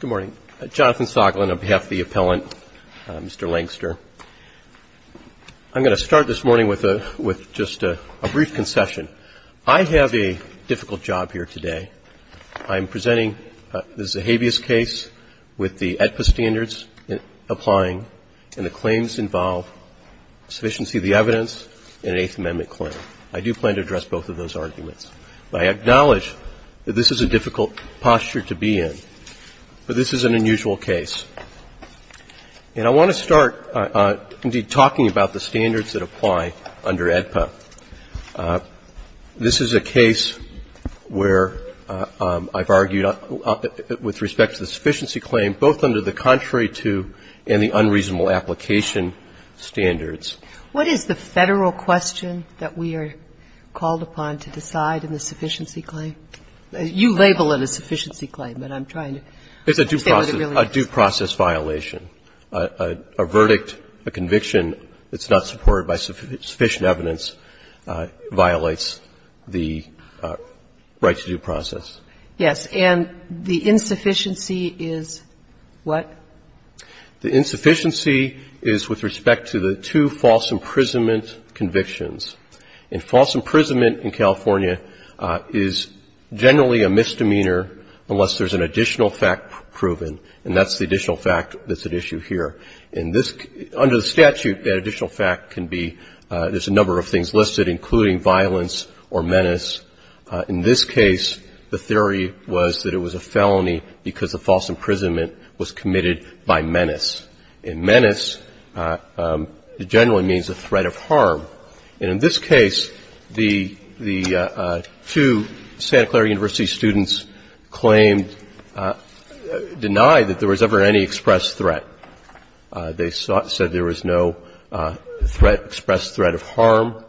Good morning. Jonathan Soglin, on behalf of the appellant, Mr. Langster. I'm going to start this morning with just a brief concession. I have a difficult job here today. I'm presenting the Zahabias case with the AEDPA standards applying, and the claims involve sufficiency of the evidence and an Eighth Amendment claim. I do plan to address both of those arguments. But I acknowledge that this is a difficult posture to be in. But this is an unusual case. And I want to start, indeed, talking about the standards that apply under AEDPA. This is a case where I've argued with respect to the sufficiency claim, both under the contrary to and the unreasonable application standards. Kagan What is the Federal question that we are called upon to decide in the sufficiency claim? You label it a sufficiency claim, but I'm trying to say what it really is. LANGSTER It's a due process violation. A verdict, a conviction that's not supported by sufficient evidence violates the right to due process. Kagan Yes. And the insufficiency is what? LANGSTER The insufficiency is with respect to the two false imprisonment convictions. And false imprisonment in California is generally a misdemeanor unless there's an additional fact proven, and that's the additional fact that's at issue here. And this under the statute, that additional fact can be, there's a number of things listed, including violence or menace. In this case, the theory was that it was a felony because the false imprisonment was committed by menace. And menace generally means a threat of harm. And in this case, the two Santa Clara University students claimed, denied that there was ever any express threat. They said there was no express threat of harm.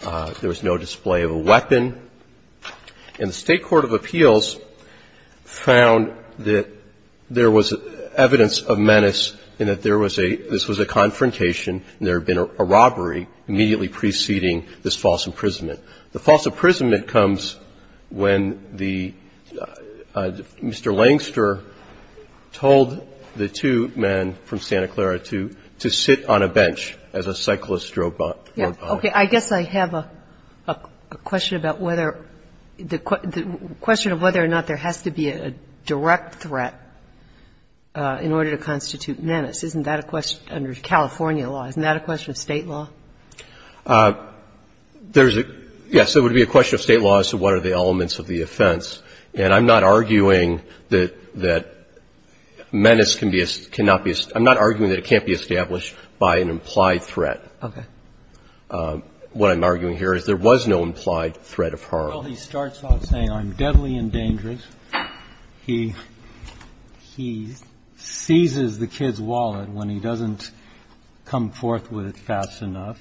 There was no display of a weapon. And the evidence of menace in that there was a, this was a confrontation, and there had been a robbery immediately preceding this false imprisonment. The false imprisonment comes when the, Mr. Langster told the two men from Santa Clara to sit on a bench as a cyclist drove by. Kagan Okay. I guess I have a question about whether, the question of whether or not there has to be a direct threat in order to constitute menace. Isn't that a question, under California law, isn't that a question of State law? Waxman There's a, yes, it would be a question of State law as to what are the elements of the offense. And I'm not arguing that menace can be, cannot be, I'm not arguing that it can't be established by an implied threat. Kagan Okay. Waxman What I'm arguing here is there was no implied threat of harm. Well, he starts off saying, I'm deadly and dangerous. He, he seizes the kid's wallet when he doesn't come forth with it fast enough.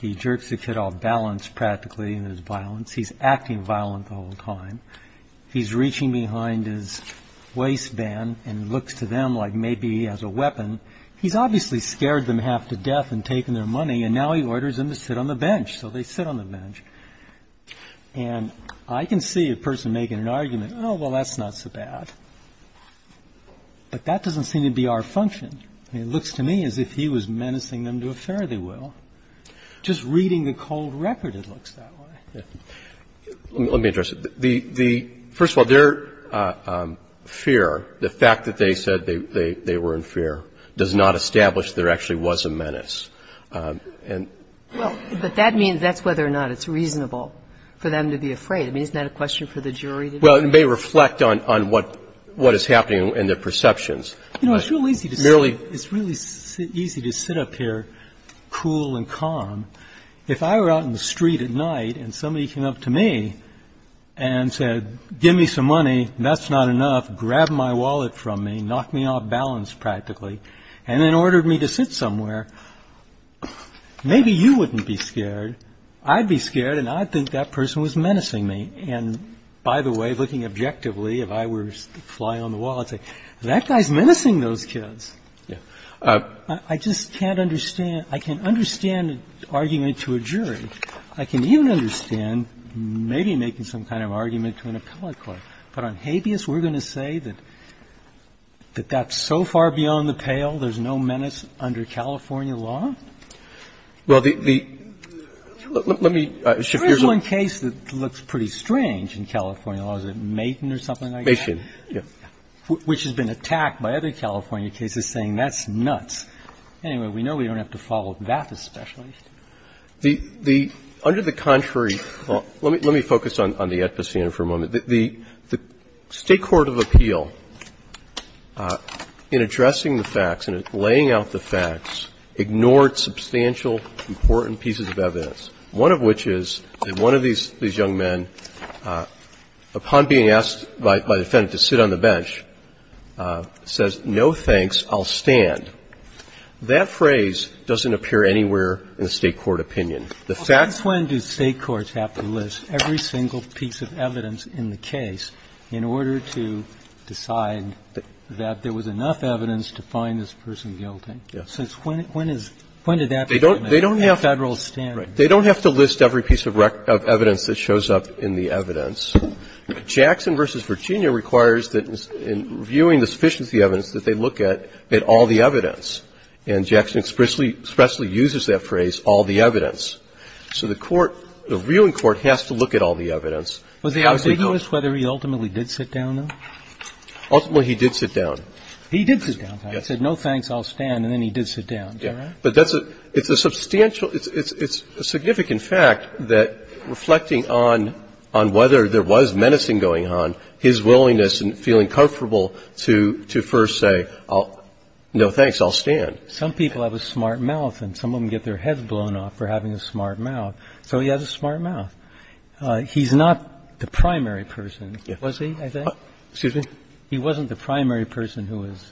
He jerks the kid off balance practically in his violence. He's acting violent the whole time. He's reaching behind his waistband and looks to them like maybe he has a weapon. He's obviously scared them half to death in taking their money, and now he orders them to sit on the bench. So they sit on the bench. And I can see a person making an argument, oh, well, that's not so bad. But that doesn't seem to be our function. It looks to me as if he was menacing them to a fare they will. Just reading the cold record, it looks that way. Roberts Let me address it. The, the, first of all, their fear, the fact that they said they, they were in fear does not establish there actually was a menace. And But that means, that's whether or not it's reasonable for them to be afraid. I mean, isn't that a question for the jury? Well, it may reflect on, on what, what is happening in their perceptions. You know, it's real easy to sit, it's really easy to sit up here cool and calm. If I were out in the street at night and somebody came up to me and said, give me some money, that's not enough, grabbed my wallet from me, knocked me off balance practically, and then ordered me to sit somewhere. Maybe you wouldn't be scared. I'd be scared. And I think that person was menacing me. And by the way, looking objectively, if I were flying on the wall, I'd say, that guy's menacing those kids. I just can't understand. I can understand arguing it to a jury. I can even understand maybe making some kind of argument to an appellate court. But on habeas, we're going to say that that's so far beyond the pale, there's no menace under California law? Well, the, the, let me shift gears a little. There is one case that looks pretty strange in California law. Is it Maitin or something like that? Maitin, yes. Which has been attacked by other California cases, saying that's nuts. Anyway, we know we don't have to follow that as special. The, the, under the contrary, let me, let me focus on, on the ethos here for a moment. The, the State Court of Appeal, in addressing the facts and in laying out the facts, ignored substantial, important pieces of evidence. One of which is that one of these young men, upon being asked by, by the defendant to sit on the bench, says, no thanks, I'll stand. That phrase doesn't appear anywhere in the State court opinion. The fact Well, since when do State courts have to list every single piece of evidence in the case in order to decide that there was enough evidence to find this person guilty? Yes. Since when, when is, when did that become a federal standard? They don't, they don't have to list every piece of record, of evidence that shows up in the evidence. Jackson v. Virginia requires that in viewing the sufficiency evidence that they look at, at all the evidence. And Jackson expressly, expressly uses that phrase, all the evidence. So the court, the viewing court has to look at all the evidence. Was he ambiguous whether he ultimately did sit down, though? Ultimately, he did sit down. He did sit down. Yes. He said, no thanks, I'll stand, and then he did sit down. Is that right? But that's a, it's a substantial, it's, it's, it's a significant fact that reflecting on, on whether there was menacing going on, his willingness and feeling comfortable to, to first say, I'll, no thanks, I'll stand. Some people have a smart mouth and some of them get their heads blown off for having a smart mouth. So he has a smart mouth. He's not the primary person, was he, I think? Excuse me? He wasn't the primary person who was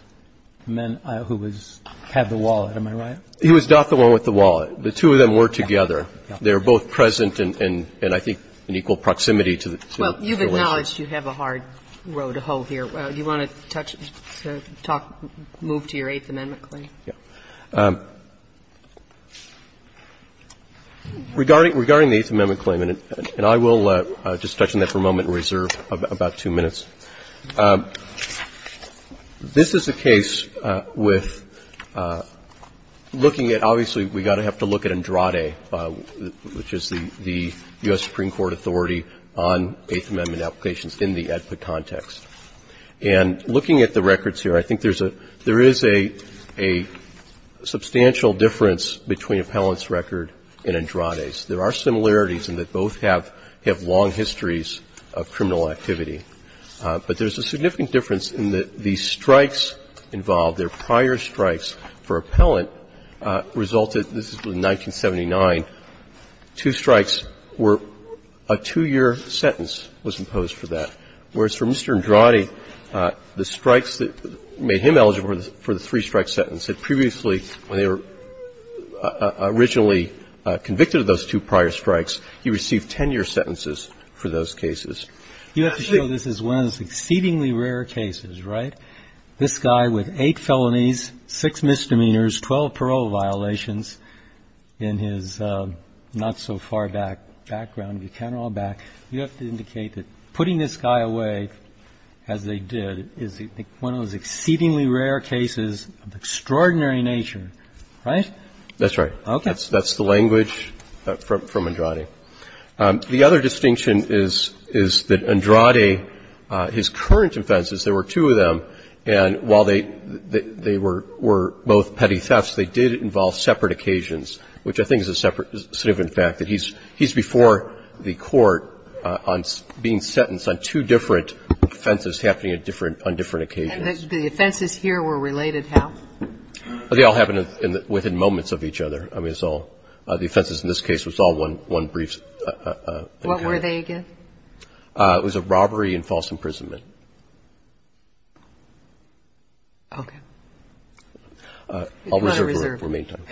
men, who was, had the wallet, am I right? He was not the one with the wallet. The two of them were together. They were both present and, and, and I think in equal proximity to the two. Well, you've acknowledged you have a hard row to hoe here. Do you want to touch, to talk, move to your Eighth Amendment claim? Regarding, regarding the Eighth Amendment claim, and, and I will just touch on that for a moment and reserve about, about two minutes. This is a case with looking at, obviously, we've got to have to look at Andrade, which is the, the U.S. Supreme Court authority on Eighth Amendment applications in the ADPA context. And looking at the records here, I think there's a, there is a, a substantial difference between Appellant's record and Andrade's. There are similarities in that both have, have long histories of criminal activity. But there's a significant difference in that the strikes involved, their prior strikes for Appellant resulted, this is from 1979, two strikes were, a two-year sentence was imposed for that, whereas for Mr. Andrade, the strikes that made him eligible for the three-strike sentence had previously, when they were originally convicted of those two prior strikes, he received 10-year sentences for those cases. You have to show this is one of those exceedingly rare cases, right? This guy with eight felonies, six misdemeanors, 12 parole violations in his not-so-far back, background, if you count it all back, you have to indicate that putting this guy away, as they did, is one of those exceedingly rare cases of extraordinary nature, right? That's right. Okay. That's, that's the language from, from Andrade. The other distinction is, is that Andrade, his current offenses, there were two of them, and while they, they were, were both petty thefts, they did involve separate occasions, which I think is a separate, significant fact, that he's, he's before the Court on being sentenced on two different offenses happening at different, on different occasions. And the offenses here were related how? They all happened within moments of each other. I mean, it's all, the offenses in this case was all one, one brief. What were they again? It was a robbery and false imprisonment. Okay. I'll reserve it for main time.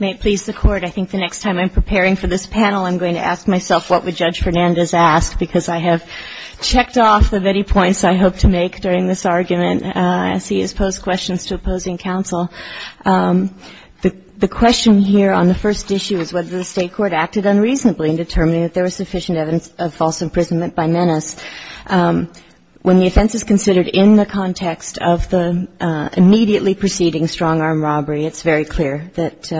May it please the Court. I think the next time I'm preparing for this panel, I'm going to ask myself what would Judge Fernandez ask, because I have checked off of any points I hope to make during this argument as he has posed questions to opposing counsel. The, the question here on the first issue is whether the State court acted unreasonably in determining that there was sufficient evidence of false imprisonment by menace. When the offense is considered in the context of the immediately preceding strong armed robbery, it's very clear that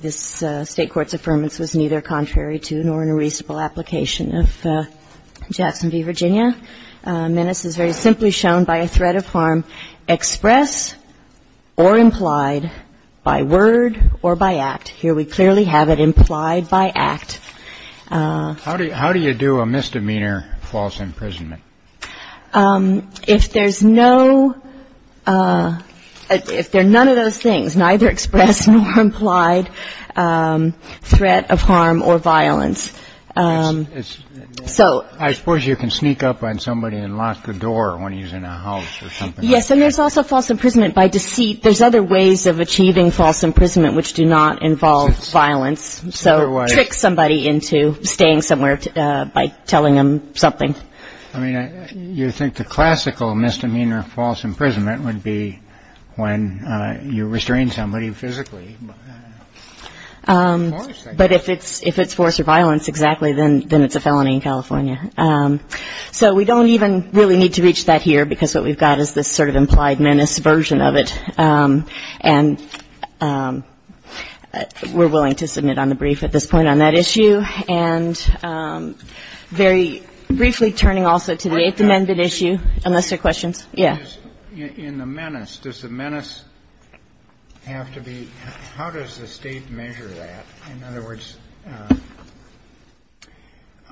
this State court's affirmance was neither contrary to nor in a reasonable application of Jackson v. Virginia. Menace is very simply shown by a threat of harm express or implied by word or by act. Here we clearly have it implied by act. How do you do a misdemeanor false imprisonment? If there's no, if they're none of those things, neither express nor implied threat of harm or violence. So. I suppose you can sneak up on somebody and lock the door when he's in a house or something. Yes. And there's also false imprisonment by deceit. There's other ways of achieving false imprisonment which do not involve violence. So trick somebody into staying somewhere by telling them something. I mean, you think the classical misdemeanor false imprisonment would be when you restrain somebody physically. But if it's force or violence, exactly, then it's a felony in California. So we don't even really need to reach that here because what we've got is this sort of implied menace version of it. And we're willing to submit on the brief at this point on that issue. And very briefly turning also to the Eighth Amendment issue. Unless there are questions. Yeah. In the menace, does the menace have to be, how does the State measure that? In other words,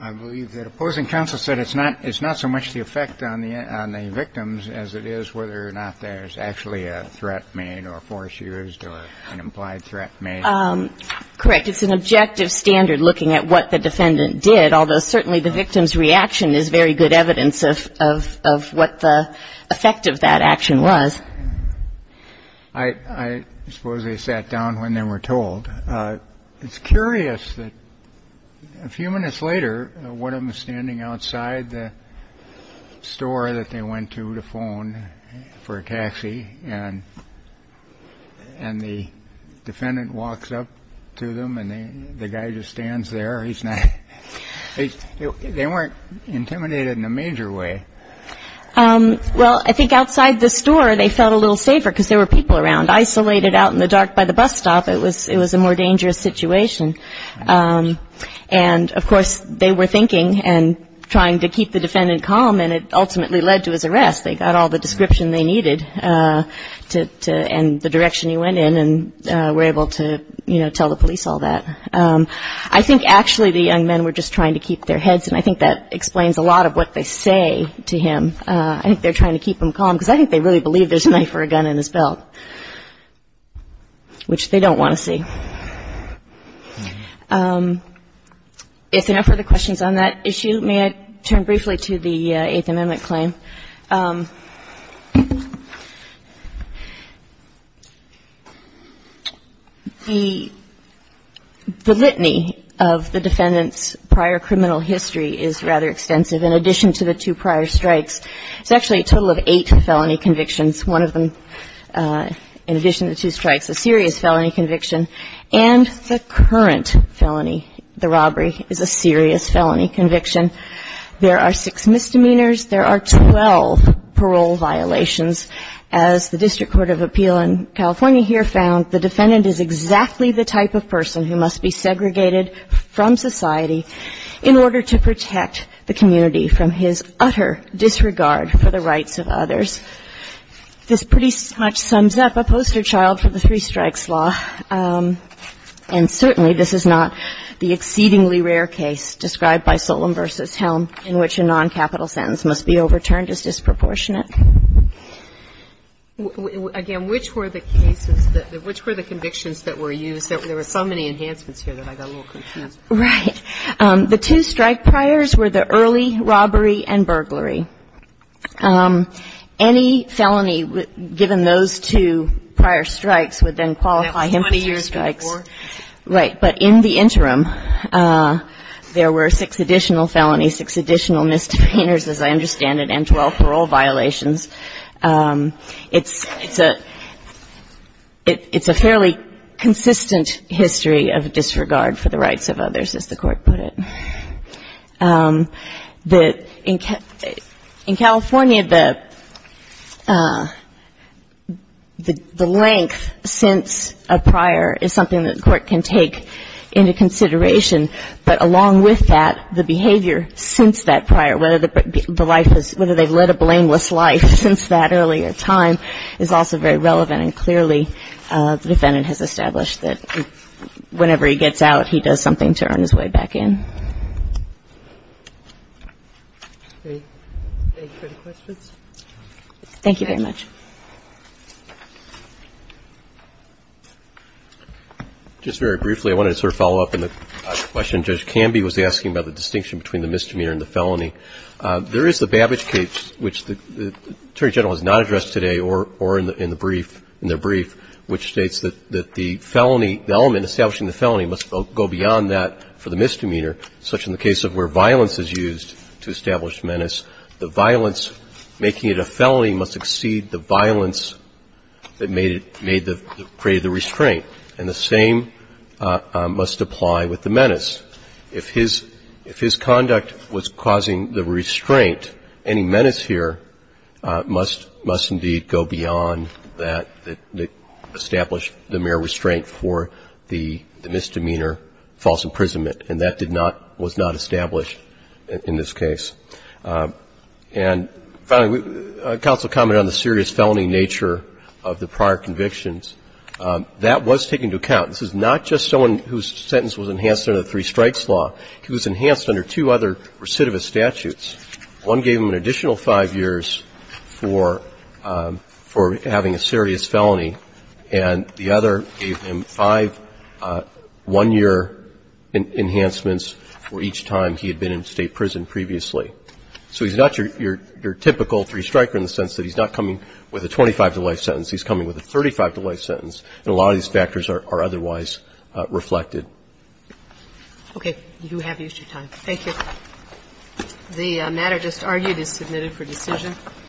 I believe that opposing counsel said it's not so much the effect on the victims as it is whether or not there's actually a threat made or force used or an implied threat made. Correct. It's an objective standard looking at what the defendant did, although certainly the victim's reaction is very good evidence of what the effect of that action was. I suppose they sat down when they were told. It's curious that a few minutes later, one of them standing outside the store that they went to the phone for a taxi and. And the defendant walks up to them and the guy just stands there. They weren't intimidated in a major way. Well, I think outside the store they felt a little safer because there were people around isolated out in the dark by the bus stop. It was a more dangerous situation. And, of course, they were thinking and trying to keep the defendant calm, and it ultimately led to his arrest. They got all the description they needed and the direction he went in and were able to, you know, tell the police all that. I think actually the young men were just trying to keep their heads, and I think that explains a lot of what they say to him. I think they're trying to keep him calm because I think they really believe there's a knife or a gun in his belt, which they don't want to see. If there are no further questions on that issue, may I turn briefly to the Eighth Amendment claim? The litany of the defendant's prior criminal history is rather extensive. In addition to the two prior strikes, it's actually a total of eight felony convictions, one of them, in addition to the two strikes, a serious felony conviction. And the current felony, the robbery, is a serious felony conviction. There are six misdemeanors. There are 12 parole violations. As the District Court of Appeal in California here found, the defendant is exactly the type of person who must be segregated from society in order to protect the community from his utter disregard for the rights of others. This pretty much sums up a poster child for the three strikes law, and certainly this is not the exceedingly rare case described by Solemn v. Helm in which a noncapital sentence must be overturned as disproportionate. Again, which were the cases that the – which were the convictions that were used? There were so many enhancements here that I got a little confused. Right. The two strike priors were the early robbery and burglary. Any felony given those two prior strikes would then qualify him for the strikes. That was 20 years before? Right. But in the interim, there were six additional felonies, six additional misdemeanors, as I understand it, and 12 parole violations. It's a fairly consistent history of disregard for the rights of others, as the Court put it. In California, the length since a prior is something that the Court can take into consideration, but along with that, the behavior since that prior, whether they've led a blameless life since that earlier time, is also very relevant, and clearly the defendant has established that whenever he gets out, he does something to earn his way back in. Any further questions? Thank you very much. Just very briefly, I wanted to sort of follow up on the question Judge Canby was asking about the distinction between the misdemeanor and the felony. There is the Babbage case, which the Attorney General has not addressed today or in the brief, which states that the felony, the element establishing the felony must go beyond that for the misdemeanor, such in the case of where violence is used to establish menace, the violence making it a felony must exceed the violence that made it, created the restraint, and the same must apply with the menace. If his conduct was causing the restraint, any menace here must indeed go beyond that that established the mere restraint for the misdemeanor false imprisonment, and that did not, was not established in this case. And finally, counsel commented on the serious felony nature of the prior convictions. That was taken into account. This is not just someone whose sentence was enhanced under the three strikes law. It was enhanced under two other recidivist statutes. One gave him an additional five years for having a serious felony, and the other gave him five one-year enhancements for each time he had been in state prison previously. So he's not your typical three-striker in the sense that he's not coming with a 25-to-life sentence. He's coming with a 35-to-life sentence, and a lot of these factors are otherwise reflected. Okay. You have your time. Thank you. The matter just argued is submitted for decision.